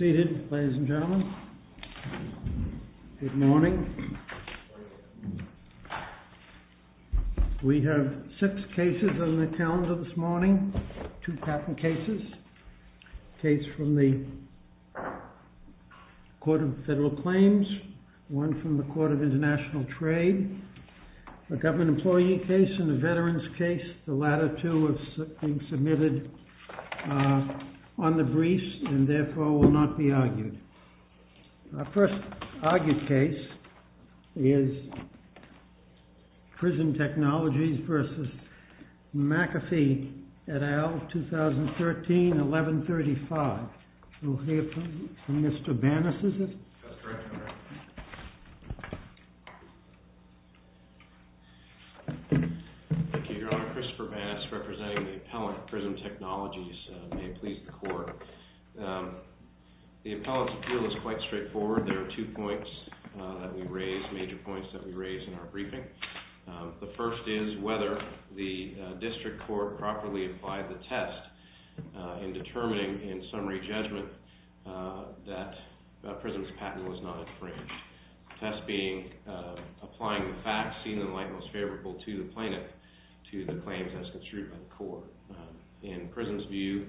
Seated, ladies and gentlemen, good morning. We have six cases on the calendar this morning, two patent cases. A case from the Court of Federal Claims, one from the Court of International Trade, a government employee case and a veteran's case. The latter two are being submitted on the briefs and therefore will not be argued. Our first argued case is PRISM TECHNOLOGIES v. MCAFEE, et al., 2013-1135. We'll hear from Mr. Banas, is it? That's correct, Your Honor. Thank you, Your Honor. Christopher Banas, representing the appellant at PRISM TECHNOLOGIES, may it please the Court. The appellant's appeal is quite straightforward. There are two points that we raise, major points that we raise in our briefing. The first is whether the district court properly applied the test in determining, in summary judgment, that PRISM's patent was not infringed. Test being applying the facts seen in the light most favorable to the plaintiff to the claims as construed by the court. In PRISM's view,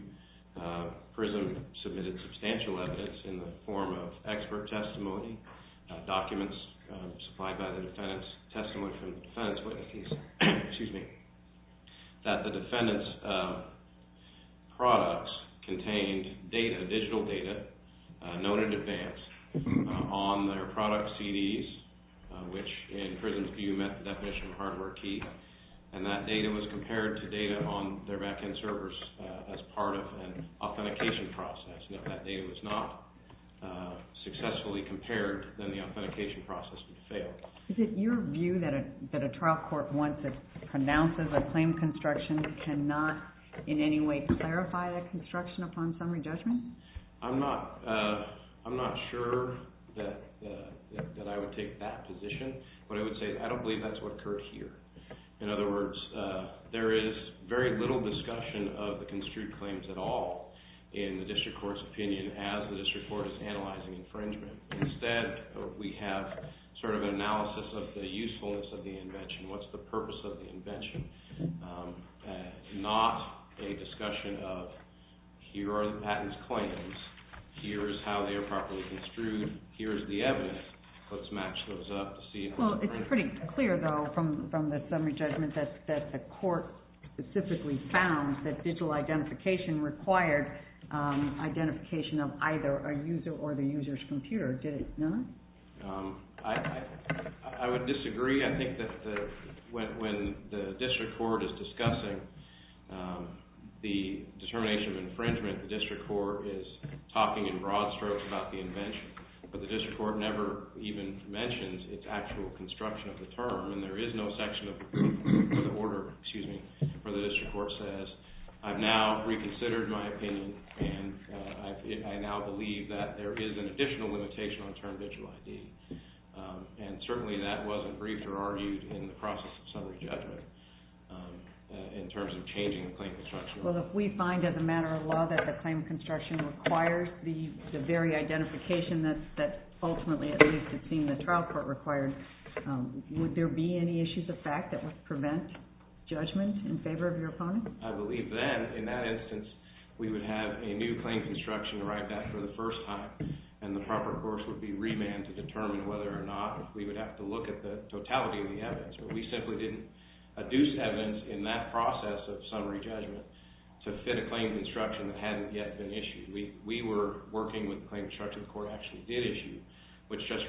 PRISM submitted substantial evidence in the form of expert testimony, documents supplied by the defendants, testimony from defendants' witnesses, excuse me, that the defendants' products contained data, digital data known in advance on their product CDs, which in PRISM's view met the definition of hardware key. And that data was compared to data on their back-end servers as part of an authentication process. Now, if that data was not successfully compared, then the authentication process would fail. Is it your view that a trial court once it pronounces a claim construction cannot in any way clarify that construction upon summary judgment? I'm not sure that I would take that position, but I would say I don't believe that's what occurred here. In other words, there is very little discussion of the construed claims at all in the district court's opinion as the district court is analyzing infringement. Instead, we have sort of an analysis of the usefulness of the invention. What's the purpose of the invention? Not a discussion of here are the patent's claims, here is how they are properly construed, here is the evidence, let's match those up to see... Well, it's pretty clear, though, from the summary judgment that the court specifically found that digital identification required identification of either a user or the user's computer. Did it not? I would disagree. I think that when the district court is discussing the determination of infringement, the district court is talking in broad strokes about the invention, but the district court never even mentions its actual construction of the term, and there is no section of the order, excuse me, where the district court says, I've now reconsidered my opinion and I now believe that there is an additional limitation on term digital ID. And certainly that wasn't briefed or argued in the process of summary judgment in terms of changing the claim construction. Well, if we find as a matter of law that the claim construction requires the very identification that ultimately, at least, it seemed the trial court required, would there be any issues of fact that would prevent judgment in favor of your opponent? I believe then, in that instance, we would have a new claim construction arrived at for the first time, and the proper course would be remanded to determine whether or not we would have to look at the totality of the evidence. We simply didn't adduce evidence in that process of summary judgment to fit a claim construction that hadn't yet been issued. We were working with the claim construction, the court actually did issue,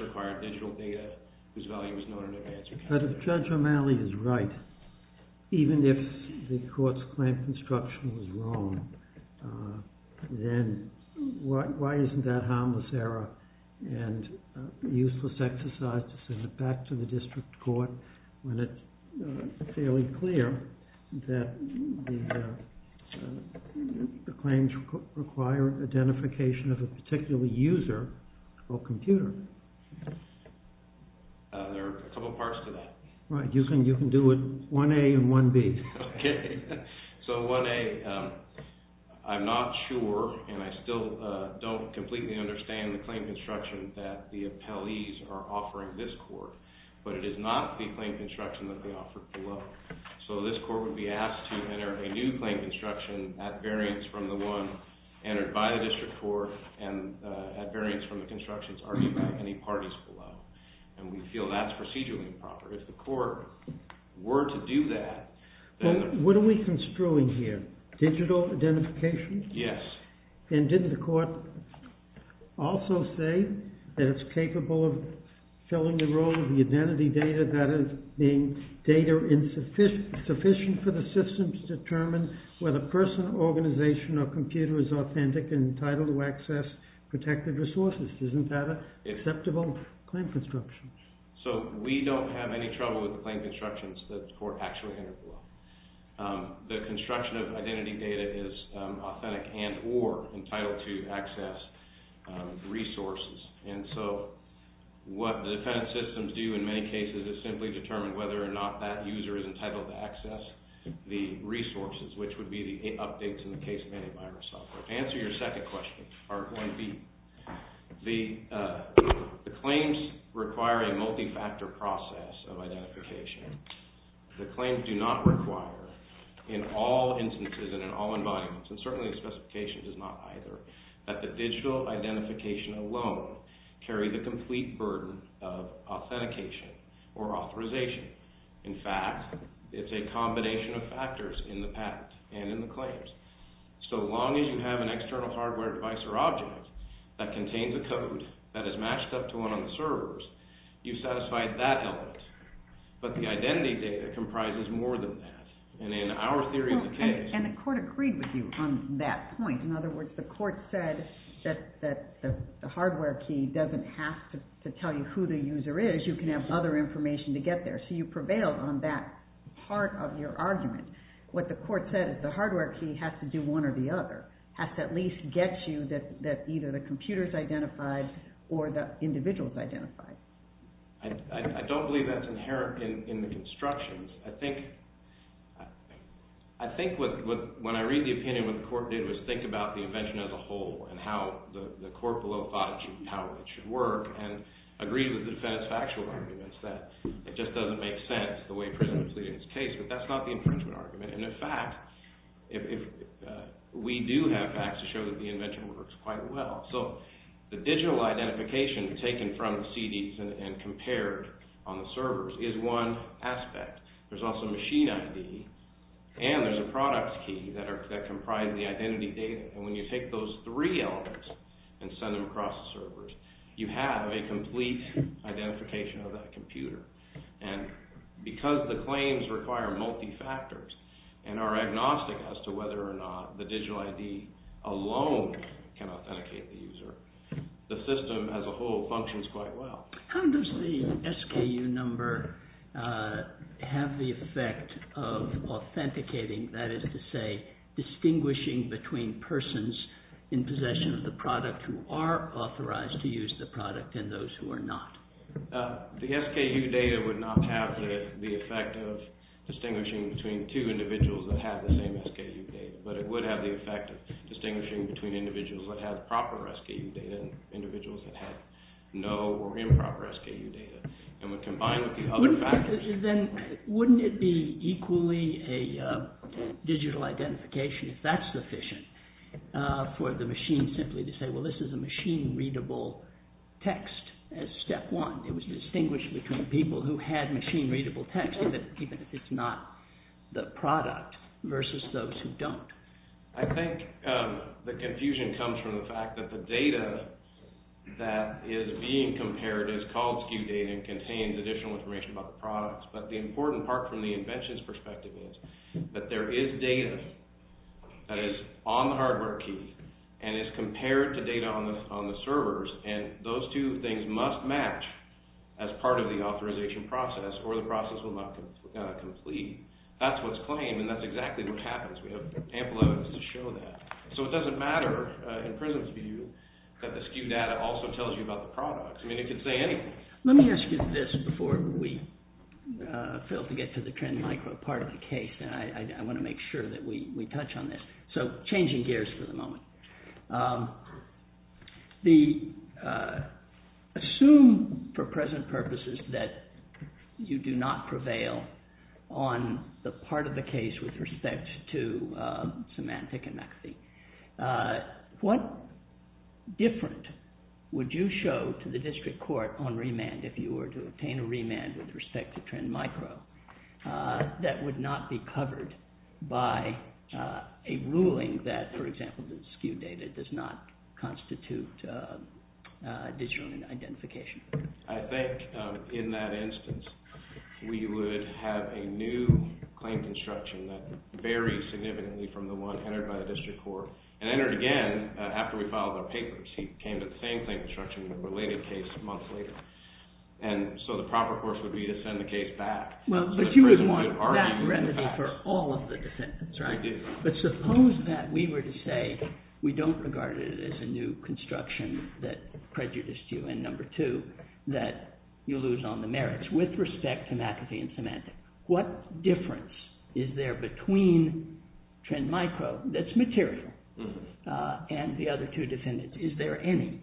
required digital data whose value was known in advance. But if Judge O'Malley is right, even if the court's claim construction was wrong, then why isn't that harmless error and a useless exercise to send it back to the district court when it's fairly clear that the claims require identification of a particular user or computer? There are a couple parts to that. Right, you can do it 1A and 1B. Okay, so 1A, I'm not sure, and I still don't completely understand the claim construction that the appellees are offering this court, but it is not the claim construction that they offered below. So this court would be asked to enter a new claim construction at variance from the one entered by the district court and at variance from the construction that's argued by any parties below. And we feel that's procedurally improper. If the court were to do that... What are we construing here? Digital identification? Yes. And didn't the court also say that it's capable of filling the role of the identity data, that is, being data insufficient for the system to determine whether a person, organization, or computer is authentic and entitled to access protected resources? Isn't that an acceptable claim construction? So we don't have any trouble with the claim constructions that the court actually entered below. The construction of identity data is authentic and or entitled to access resources. And so what the defendant's systems do in many cases is simply determine whether or not that user is entitled to access the resources, which would be the updates in the case made by herself. The answer to your second question are going to be the claims require a multi-factor process of identification. The claims do not require in all instances and in all environments, and certainly the specification does not either, that the digital identification alone carry the complete burden of authentication or authorization. In fact, it's a combination of factors in the patent and in the claims. So long as you have an external hardware device or object that contains a code that is matched up to one on the servers, you've satisfied that element. But the identity data comprises more than that. And in our theory of the case... And the court agreed with you on that point. In other words, the court said that the hardware key doesn't have to tell you who the user is. You can have other information to get there. So you prevailed on that part of your argument. What the court said is the hardware key has to do one or the other. Has to at least get you that either the computer's identified or the individual's identified. I don't believe that's inherent in the constructions. I think when I read the opinion, what the court did was think about the invention as a whole and how the court below thought it should work and agreed with the defense factual arguments that it just doesn't make sense the way presented in this case. But that's not the infringement argument. And in fact, we do have facts to show that the invention works quite well. So the digital identification taken from the CDs and compared on the servers is one aspect. There's also machine ID, and there's a products key that comprise the identity data. And when you take those three elements and send them across the servers, you have a complete identification of that computer. And because the claims require multi-factors and are agnostic as to whether or not the digital ID alone can authenticate the user, the system as a whole functions quite well. How does the SKU number have the effect of authenticating, that is to say, distinguishing between persons in possession of the product who are authorized to use the product and those who are not? The SKU data would not have the effect of distinguishing between two individuals that have the same SKU data, but it would have the effect of distinguishing between individuals that have proper SKU data and individuals that have no or improper SKU data. And when combined with the other factors... Then wouldn't it be equally a digital identification if that's sufficient for the machine simply to say, well, this is a machine-readable text as step one? It was distinguished between people who had machine-readable text, even if it's not the product, versus those who don't. I think the confusion comes from the fact that the data that is being compared is called SKU data and contains additional information about the products. But the important part from the invention's perspective is that there is data that is on the hardware key and is compared to data on the servers and those two things must match as part of the authorization process or the process will not complete. That's what's claimed and that's exactly what happens. We have ample evidence to show that. So it doesn't matter in Prism's view that the SKU data also tells you about the products. I mean, it could say anything. Let me ask you this before we fail to get to the Trend Micro part of the case. I want to make sure that we touch on this. So changing gears for the moment. Assume for present purposes that you do not prevail on the part of the case with respect to Symantec and McAfee. What difference would you show to the district court on remand if you were to obtain a remand with respect to Trend Micro that would not be covered by a ruling that, for example, the SKU data does not constitute digital identification? I think in that instance we would have a new claim construction that varies significantly from the one entered by the district court and entered again after we filed our papers. He came to the same claim construction in a related case months later. And so the proper course would be to send the case back to the district court. Well, but you would want that remedy for all of the defendants, right? I do. But suppose that we were to say we don't regard it as a new construction that prejudiced you, and number two, that you lose on the merits with respect to McAfee and Symantec. What difference is there between Trend Micro that's material and the other two defendants? Is there any?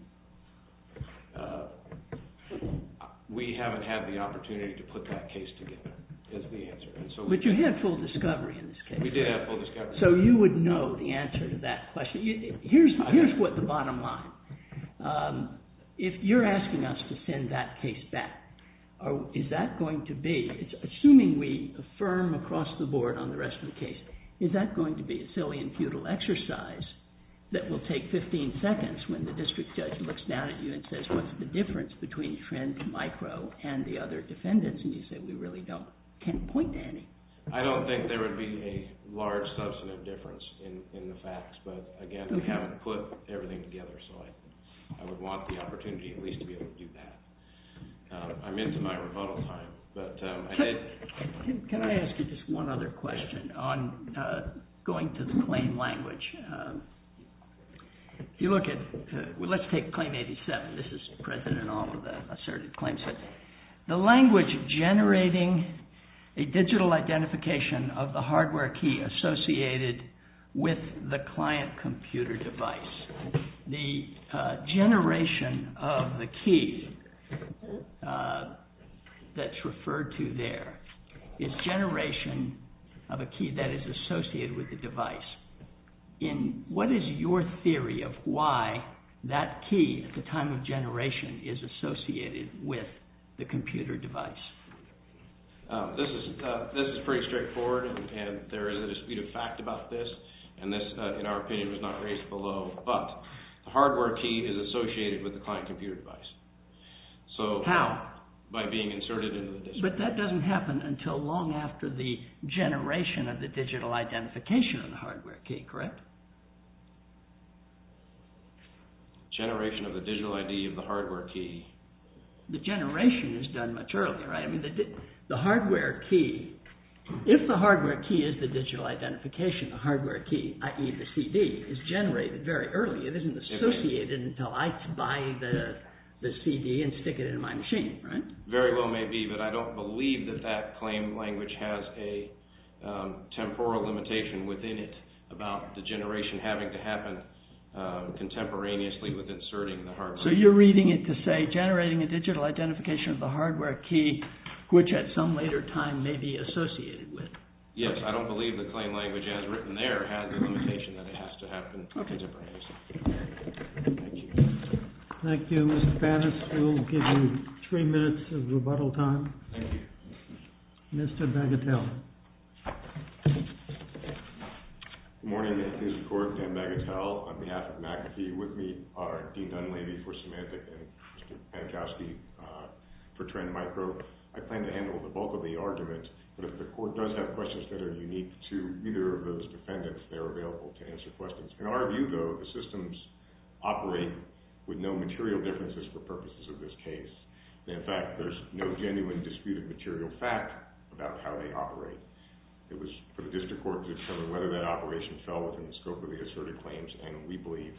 We haven't had the opportunity to put that case together is the answer. But you had full discovery in this case. We did have full discovery. So you would know the answer to that question. Here's what the bottom line. If you're asking us to send that case back, is that going to be, assuming we affirm across the board on the rest of the case, is that going to be a silly and futile exercise that will take 15 seconds when the district judge looks down at you and says, what's the difference between Trend Micro and the other defendants? And you say, we really can't point to any. I don't think there would be a large substantive difference in the facts. But again, we haven't put everything together. So I would want the opportunity at least to be able to do that. I'm into my rebuttal time. Can I ask you just one other question on going to the claim language? If you look at, let's take claim 87. This is present in all of the asserted claims. The language generating a digital identification of the hardware key associated with the client computer device. The generation of the key that's referred to there is generation of a key that is associated with the device in what is your theory of why that key at the time of generation is associated with the computer device? This is pretty straightforward. And there is a dispute of fact about this. And this, in our opinion, was not raised below. But the hardware key is associated with the client computer device. How? By being inserted into the disk. But that doesn't happen until long after the generation of the digital identification of the hardware key, correct? Generation of the digital ID of the hardware key. The generation is done much earlier. The hardware key. If the hardware key is the digital identification, the hardware key, i.e. the CD, is generated very early. It isn't associated until I buy the CD and stick it in my machine, right? Very well may be. But I don't believe that that claim language has a temporal limitation within it about the generation having to happen contemporaneously with inserting the hardware key. So you're reading it to say generating a digital identification of the hardware key, which at some later time may be associated with. Yes, I don't believe the claim language as written there has the limitation that it has to happen contemporaneously. Thank you. Thank you. Mr. Bannis, we'll give you three minutes of rebuttal time. Thank you. Mr. Bagatelle. Good morning, Mr. Court. Dan Bagatelle on behalf of McAfee. With me are Dean Dunleavy for Symantec and Mr. Pankowski for Trend Micro. I plan to handle the bulk of the argument, but if the court does have questions that are unique to either of those defendants, they're available to answer questions. In our view, though, the systems operate with no material differences for purposes of this case. In fact, there's no genuine disputed material fact about how they operate. It was for the District Court to determine whether that operation fell within the scope of the asserted claims, and we believe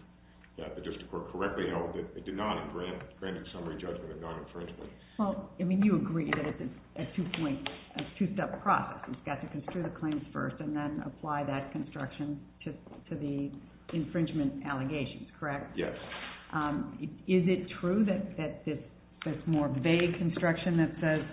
that the District Court correctly held that it did not in granting summary judgment of non-infringement. Well, I mean, you agree that it's a two-step process. It's got to construe the claims first and then apply that construction to the infringement allegations, correct? Yes. Is it true that this more vague construction that says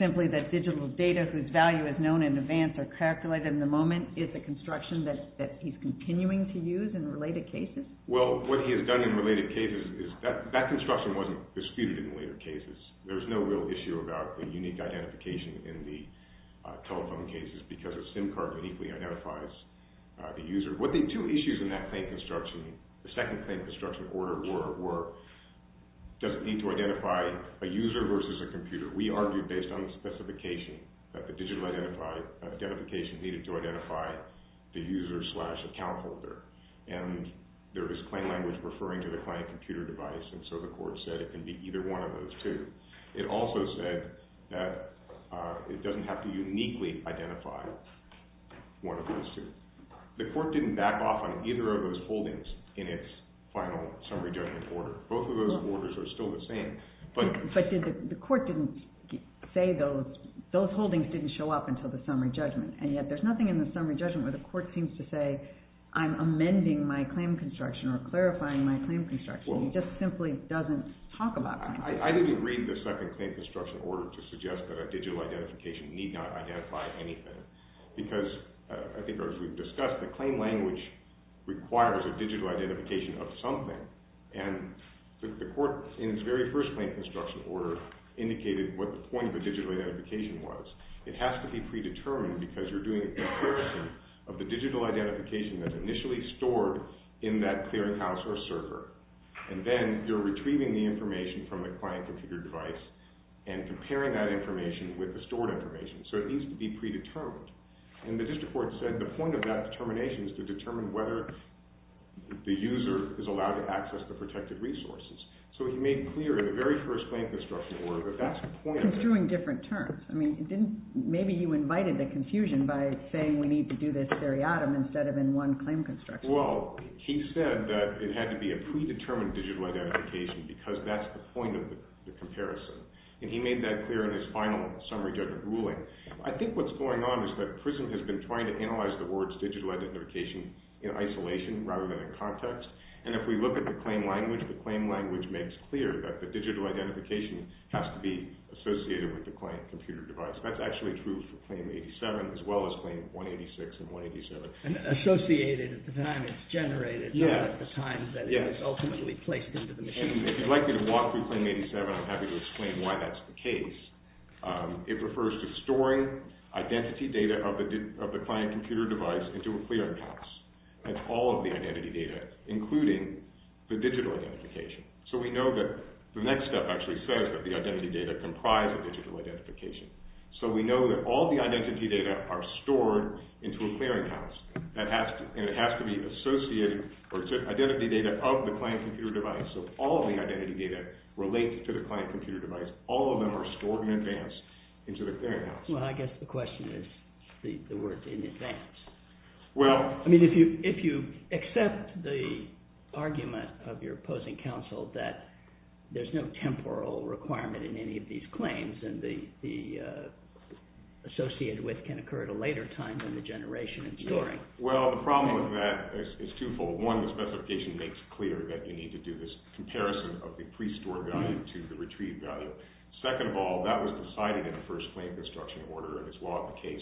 simply that digital data whose value is known in advance are calculated in the moment is a construction that he's continuing to use in related cases? Well, what he has done in related cases is that construction wasn't disputed in later cases. There's no real issue about the unique identification in the telephone cases because a SIM card uniquely identifies the user. What the two issues in that claim construction, the second claim construction order were were does it need to identify a user versus a computer? We argued based on the specification that the digital identification needed to identify the user slash account holder, and there is claim language referring to the client computer device, and so the court said it can be either one of those two. It also said that it doesn't have to uniquely identify one of those two. The court didn't back off on either of those holdings in its final summary judgment order. Both of those orders are still the same. But the court didn't say those holdings didn't show up until the summary judgment, and yet there's nothing in the summary judgment where the court seems to say, I'm amending my claim construction or clarifying my claim construction. It just simply doesn't talk about that. I didn't read the second claim construction order to suggest that a digital identification need not identify anything because, I think as we've discussed, the claim language requires a digital identification of something, and the court in its very first claim construction order indicated what the point of a digital identification was. It has to be predetermined because you're doing a comparison of the digital identification that's initially stored in that clearinghouse or server, and then you're retrieving the information from the client computer device and comparing that information with the stored information, so it needs to be predetermined. And the district court said the point of that determination is to determine whether the user is allowed to access the protected resources. So he made clear in the very first claim construction order that that's the point of the... Construing different terms. I mean, maybe you invited the confusion by saying we need to do this seriatim instead of in one claim construction order. Well, he said that it had to be a predetermined digital identification because that's the point of the comparison. And he made that clear in his final summary judgment ruling. I think what's going on is that PRISM has been trying to analyze the words digital identification in isolation rather than in context, and if we look at the claim language, the claim language makes clear that the digital identification has to be associated with the client computer device. That's actually true for Claim 87 as well as Claim 186 and 187. And associated at the time it's generated, not at the time that it was ultimately placed into the machine. And if you'd like me to walk through Claim 87, I'm happy to explain why that's the case. It refers to storing identity data of the client computer device into a clearinghouse. That's all of the identity data, including the digital identification. So we know that the next step actually says that the identity data comprise a digital identification. So we know that all the identity data are stored into a clearinghouse. And it has to be associated, or it's identity data of the client computer device. So all of the identity data relate to the client computer device. All of them are stored in advance into the clearinghouse. Well, I guess the question is the words in advance. I mean, if you accept the argument of your opposing counsel that there's no temporal requirement in any of these claims, and the associated with can occur at a later time than the generation and storing. Well, the problem with that is twofold. One, the specification makes it clear that you need to do this comparison of the pre-store value to the retrieved value. Second of all, that was decided in the first claim construction order, and it's law of the case.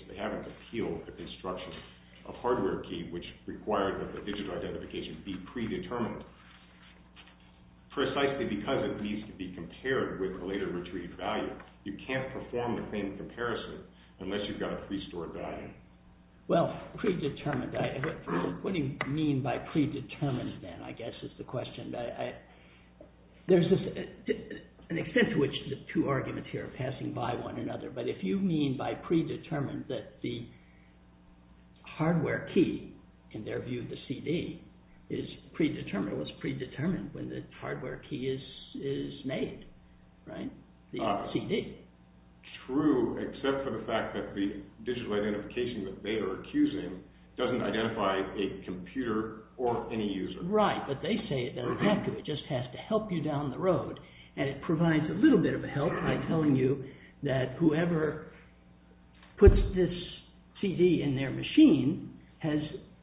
A hardware key, which required that the digital identification be predetermined. Precisely because it needs to be compared with a later retrieved value. You can't perform the same comparison unless you've got a pre-store value. Well, predetermined. What do you mean by predetermined, then, I guess is the question. There's an extent to which the two arguments here are passing by one another. But if you mean by predetermined that the hardware key, in their view, the CD, is predetermined when the hardware key is made. Right? The CD. True, except for the fact that the digital identification that they are accusing doesn't identify a computer or any user. Right, but they say it doesn't have to. It just has to help you down the road. And it provides a little bit of a help by telling you that whoever puts this CD in their machine has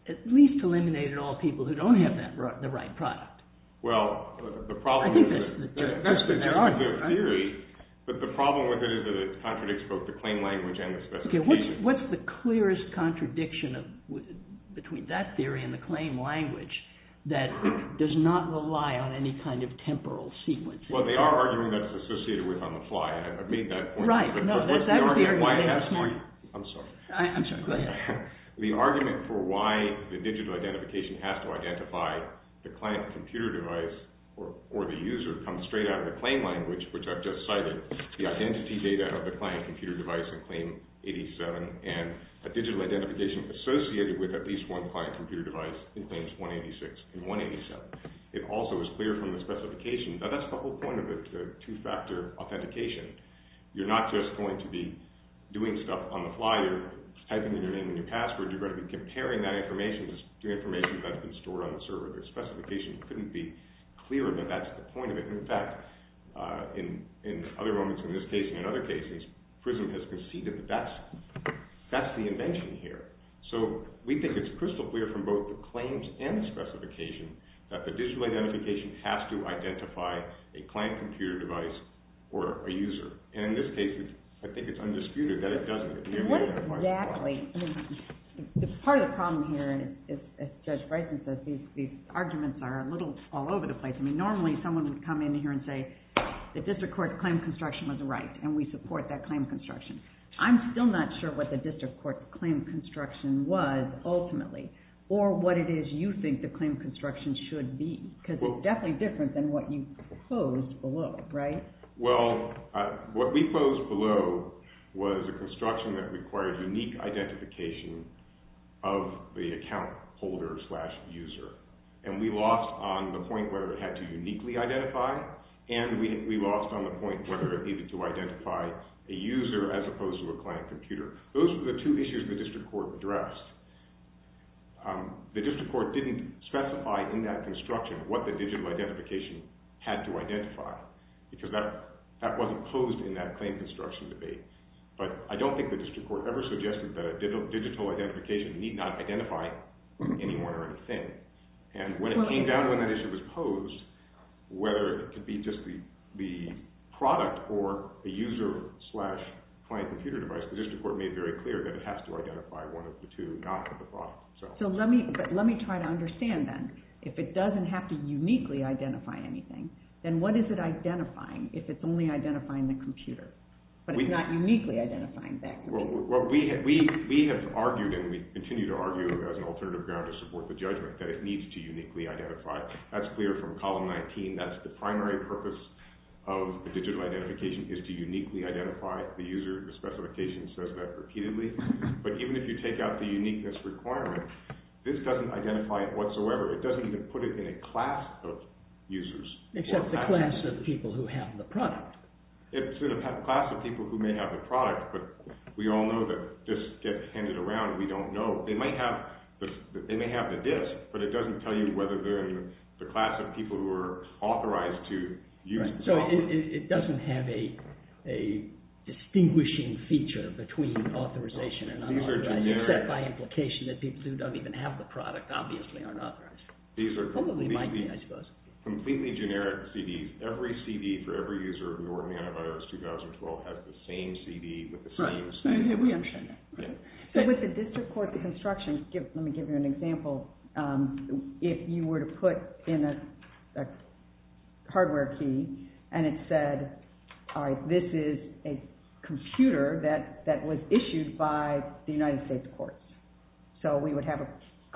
at least eliminated all people who don't have the right product. Well, the problem with it... I think that's the gist of it. That's the gist of the theory. But the problem with it is that it contradicts both the claim language and the specification. What's the clearest contradiction between that theory and the claim language that does not rely on any kind of temporal sequencing? Well, they are arguing that it's associated with on the fly. I mean that point. I'm sorry. I'm sorry. Go ahead. The argument for why the digital identification has to identify the client computer device or the user comes straight out of the claim language, which I've just cited. The identity data of the client computer device in Claim 87 and a digital identification associated with at least one client computer device in Claims 186 and 187. It also is clear from the specification. Now, that's the whole point of the two-factor authentication. You're not just going to be doing stuff on the fly. You're typing in your name and your password. You're going to be comparing that information to information that's been stored on the server. The specification couldn't be clearer, but that's the point of it. In fact, in other moments in this case and in other cases, PRISM has conceded that that's the invention here. So we think it's crystal clear from both the claims and the specification that the digital identification has to identify a client computer device or a user. And in this case, I think it's undisputed that it doesn't. Exactly. Part of the problem here, as Judge Bryson says, these arguments are a little all over the place. I mean, normally someone would come in here and say, the district court's claim construction was right and we support that claim construction. I'm still not sure what the district court's claim construction was ultimately or what it is you think the claim construction should be because it's definitely different than what you posed below, right? Well, what we posed below was a construction that required unique identification of the account holder slash user. And we lost on the point whether it had to uniquely identify and we lost on the point whether it needed to identify a user as opposed to a client computer. Those were the two issues the district court addressed. The district court didn't specify in that construction what the digital identification had to identify because that wasn't posed in that claim construction debate. But I don't think the district court ever suggested that a digital identification need not identify anyone or anything. And when it came down to when that issue was posed, whether it could be just the product or a user slash client computer device, the district court made very clear that it has to identify one of the two, not the product itself. So let me try to understand then. If it doesn't have to uniquely identify anything, then what is it identifying if it's only identifying the computer? But it's not uniquely identifying that computer. Well, we have argued and we continue to argue as an alternative ground to support the judgment that it needs to uniquely identify. That's clear from column 19. That's the primary purpose of the digital identification is to uniquely identify the user. The specification says that repeatedly. But even if you take out the uniqueness requirement, this doesn't identify it whatsoever. It doesn't seem to put it in a class of users. Except the class of people who have the product. It's in a class of people who may have the product, but we all know that disks get handed around and we don't know. They may have the disk, but it doesn't tell you whether they're in the class of people who are authorized to use the software. So it doesn't have a distinguishing feature except by implication that people who don't even have the product obviously aren't authorized. These are completely generic CDs. Every CD for every user who ordered antivirus 2012 has the same CD with the same specification. Right. We understand that. So with the district court construction, let me give you an example. If you were to put in a hardware key and it said, all right, this is a computer that was issued by the United States courts. So we would have a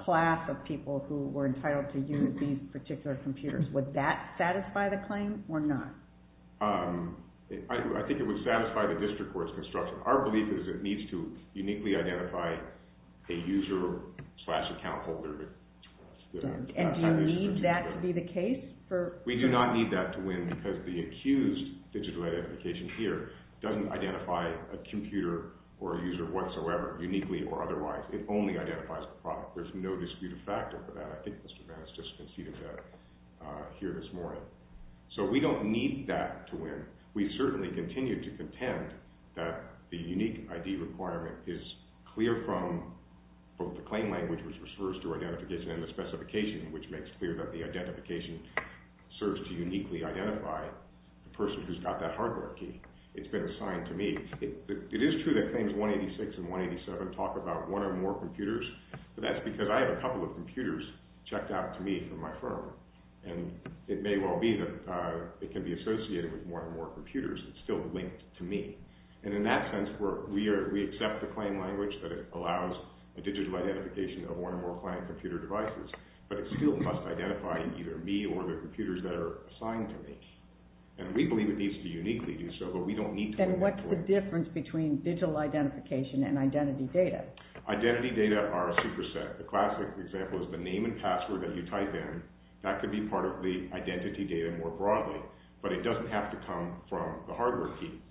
class of people who were entitled to use these particular computers. Would that satisfy the claim or not? I think it would satisfy the district court's construction. Our belief is it needs to uniquely identify a user slash account holder. And do you need that to be the case? We do not need that to win because the accused digital identification here doesn't identify a computer or a user whatsoever uniquely or otherwise. It only identifies the product. There's no disputed factor for that. I think Mr. Vance just conceded that here this morning. So we don't need that to win. We certainly continue to contend that the unique ID requirement is clear from the claim language which refers to identification and the specification which makes clear that the identification serves to uniquely identify the person who's got that hardware key. It's been assigned to me. It is true that Claims 186 and 187 talk about one or more computers. But that's because I have a couple of computers checked out to me from my firm. And it may well be that it can be associated with one or more computers. It's still linked to me. And in that sense, we accept the claim language that it allows a digital identification of one or more client computer devices. But it still must identify either me or the computers that are assigned to me. And we believe it needs to uniquely do so. But we don't need to. And what's the difference between digital identification and identity data? Identity data are a superset. The classic example is the name and password that you type in. That could be part of the identity data more broadly. But it doesn't have to come from the hardware key.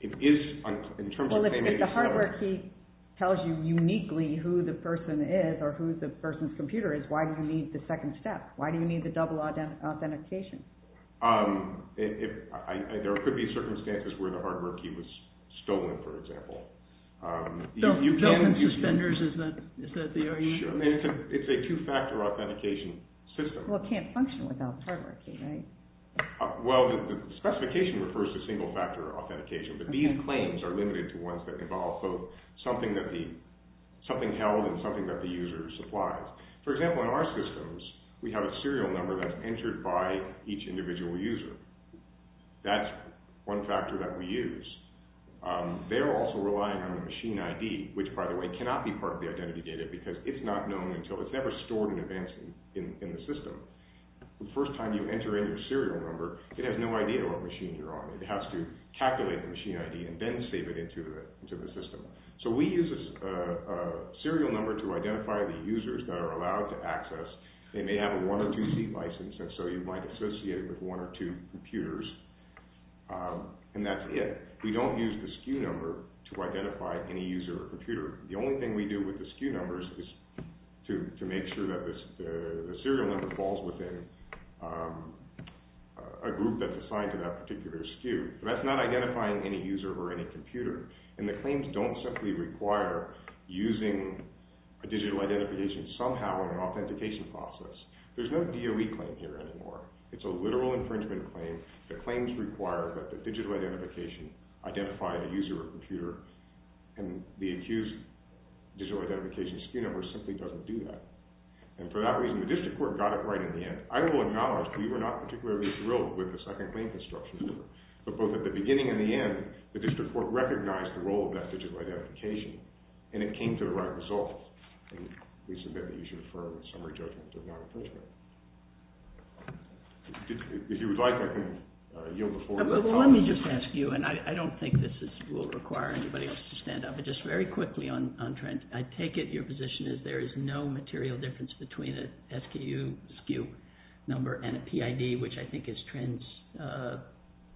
It is, in terms of claim... Well, if the hardware key tells you uniquely who the person is or who the person's computer is, why do you need the second step? Why do you need the double authentication? There could be circumstances where the hardware key was stolen, for example. Built-in suspenders, is that the area? It's a two-factor authentication system. Well, it can't function without the hardware key, right? Well, the specification refers to single-factor authentication. But these claims are limited to ones that involve something held and something that the user supplies. For example, in our systems, we have a serial number that's entered by each individual user. That's one factor that we use. They're also relying on the machine ID, which, by the way, cannot be part of the identity data because it's not known until... It's never stored in advance in the system. The first time you enter in your serial number, it has no idea what machine you're on. It has to calculate the machine ID and then save it into the system. So we use a serial number to identify the users that are allowed to access. They may have a one- or two-seat license, and so you might associate it with one or two computers. And that's it. We don't use the SKU number to identify any user or computer. The only thing we do with the SKU numbers is to make sure that the serial number falls within a group that's assigned to that particular SKU. That's not identifying any user or any computer. And the claims don't simply require using a digital identification somehow in an authentication process. There's no DOE claim here anymore. It's a literal infringement claim. The claims require that the digital identification identify the user or computer, and the accused digital identification SKU number simply doesn't do that. And for that reason, the district court got it right in the end. I will acknowledge we were not particularly thrilled with the second claim construction, but both at the beginning and the end, the district court recognized the role of that digital identification, and it came to the right result. And we submit that you should affirm the summary judgment of non-infringement. If you would like, I can yield before you. Well, let me just ask you, and I don't think this will require anybody else to stand up, but just very quickly on Trent. I take it your position is there is no material difference between a SKU SKU number and a PID, which I think is Trent's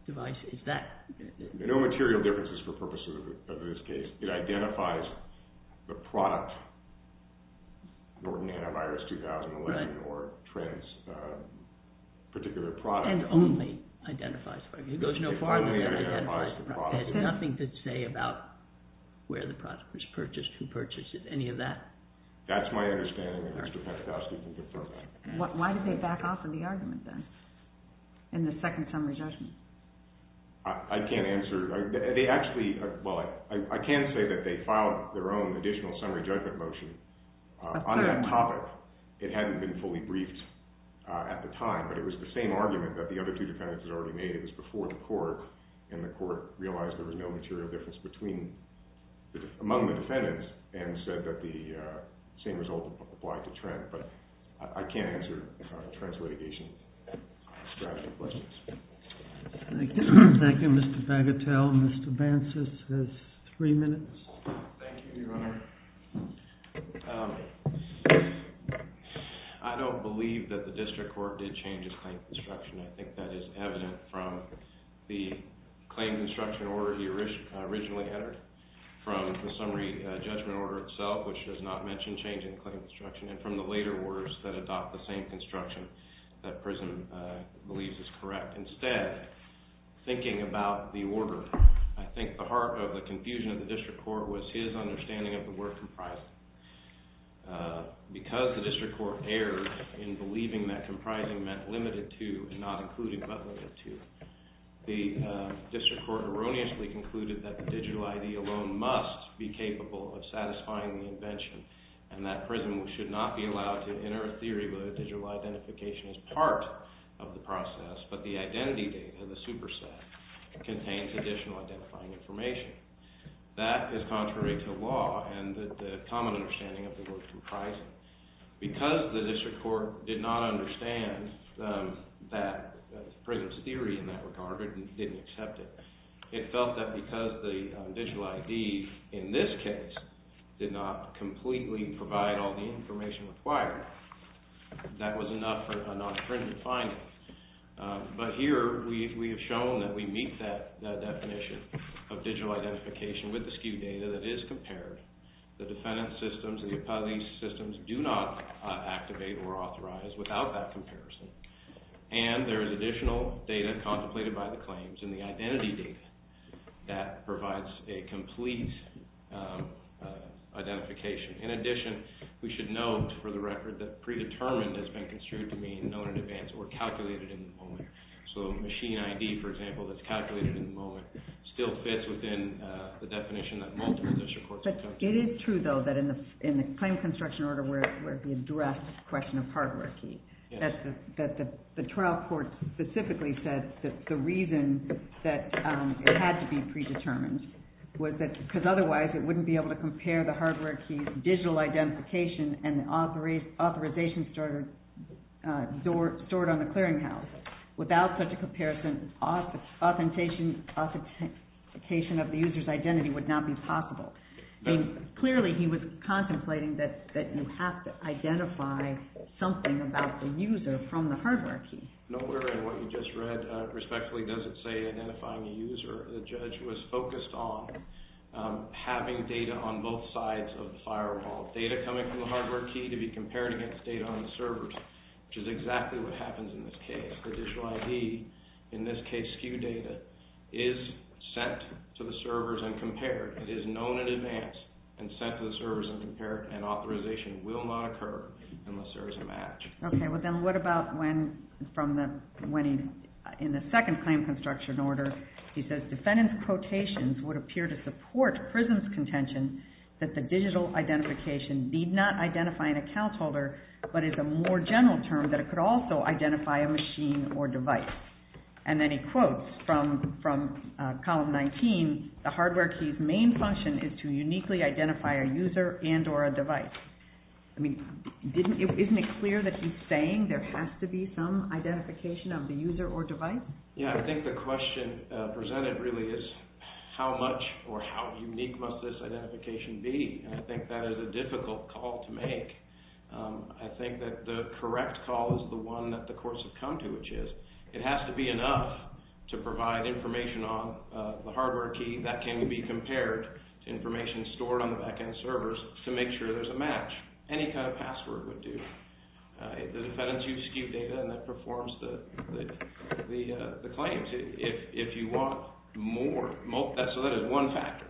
device. Is that... There are no material differences for purposes of this case. It identifies the product, Norton Antivirus 2011, or Trent's particular product. And only identifies the product. It goes no farther than that. It has nothing to say about where the product was purchased, who purchased it, any of that. That's my understanding, and Mr. Pentecoste can confirm that. Why did they back off of the argument, then, in the second summary judgment? I can't answer. Well, I can say that they filed their own additional summary judgment motion on that topic. It hadn't been fully briefed at the time, but it was the same argument that the other two defendants had already made. It was before the court, and the court realized there was no material difference among the defendants, and said that the same result applied to Trent. But I can't answer Trent's litigation strategy questions. Thank you. Thank you, Mr. Bagatelle. Mr. Bancas has three minutes. Thank you, Your Honor. I don't believe that the district court did change its claims instruction. I think that is evident from the claims instruction order he originally entered, from the summary judgment order itself, which does not mention change in claims instruction, and from the later orders that adopt the same construction that PRISM believes is correct. Instead, thinking about the order, I think the heart of the confusion of the district court was his understanding of the word comprising. Because the district court erred in believing that comprising meant limited to, and not including but limited to, the district court erroneously concluded that the digital ID alone must be capable of satisfying the invention, and that PRISM should not be allowed to enter a theory where digital identification is part of the process, but the identity data, the superset, contains additional identifying information. That is contrary to law, and the common understanding of the word comprising. Because the district court did not understand that PRISM's theory in that regard, and didn't accept it, it felt that because the digital ID, in this case, did not completely provide all the information required, that was enough for a non-stringent finding. But here, we have shown that we meet that definition of digital identification with the SKU data that is compared. The defendant's systems, the appellee's systems, do not activate or authorize without that comparison. And there is additional data contemplated by the claims, and the identity data that provides a complete, um, identification. In addition, we should note, for the record, that predetermined has been construed to mean known in advance or calculated in the moment. So machine ID, for example, that's calculated in the moment, still fits within the definition that multiple district courts accept. But it is true, though, that in the claim construction order where we addressed the question of hardware key, that the trial court specifically said that the reason that it had to be predetermined was that, because otherwise it wouldn't be able to compare the hardware key's digital identification and the authorization stored on the clearinghouse. Without such a comparison, authentication of the user's identity would not be possible. Clearly, he was contemplating that you have to identify something about the user from the hardware key. Nowhere in what you just read, respectfully, does it say identifying a user. The judge was focused on having data on both sides of the firewall. Data coming from the hardware key to be compared against data on the servers, which is exactly what happens in this case. The digital ID, in this case SKU data, is sent to the servers and compared. It is known in advance and sent to the servers and compared, and authorization will not occur unless there is a match. Okay, well then what about when, from the, when he, in the second claim construction order, he says defendant's quotations would appear to support Prism's contention that the digital identification need not identify an account holder, but is a more general term that it could also identify a machine or device. And then he quotes from, from column 19, the hardware key's main function is to uniquely identify a user and or a device. I mean, didn't, isn't it clear that he's saying there has to be some identification of the user or device? Yeah, I think the question presented really is how much or how unique must this identification be? And I think that is a difficult call to make. I think that the correct call is the one that the courts have come to, which is it has to be enough to provide information on the hardware key that can be compared to information stored on the back-end servers to make sure there's a match. Any kind of password would do. The defendant's used SKU data and that performs the claims. If you want more, so that is one factor.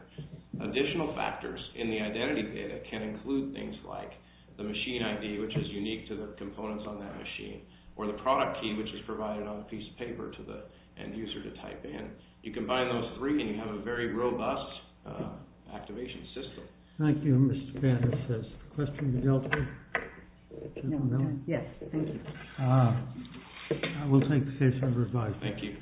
Additional factors in the identity data can include things like the machine ID, which is unique to the components on that machine, or the product key, which is provided on a piece of paper to the end user to type in. You combine those three and you have a very robust activation system. Thank you, Mr. Banner. Question to Delta? Yes, thank you. I will take the case number five. Thank you.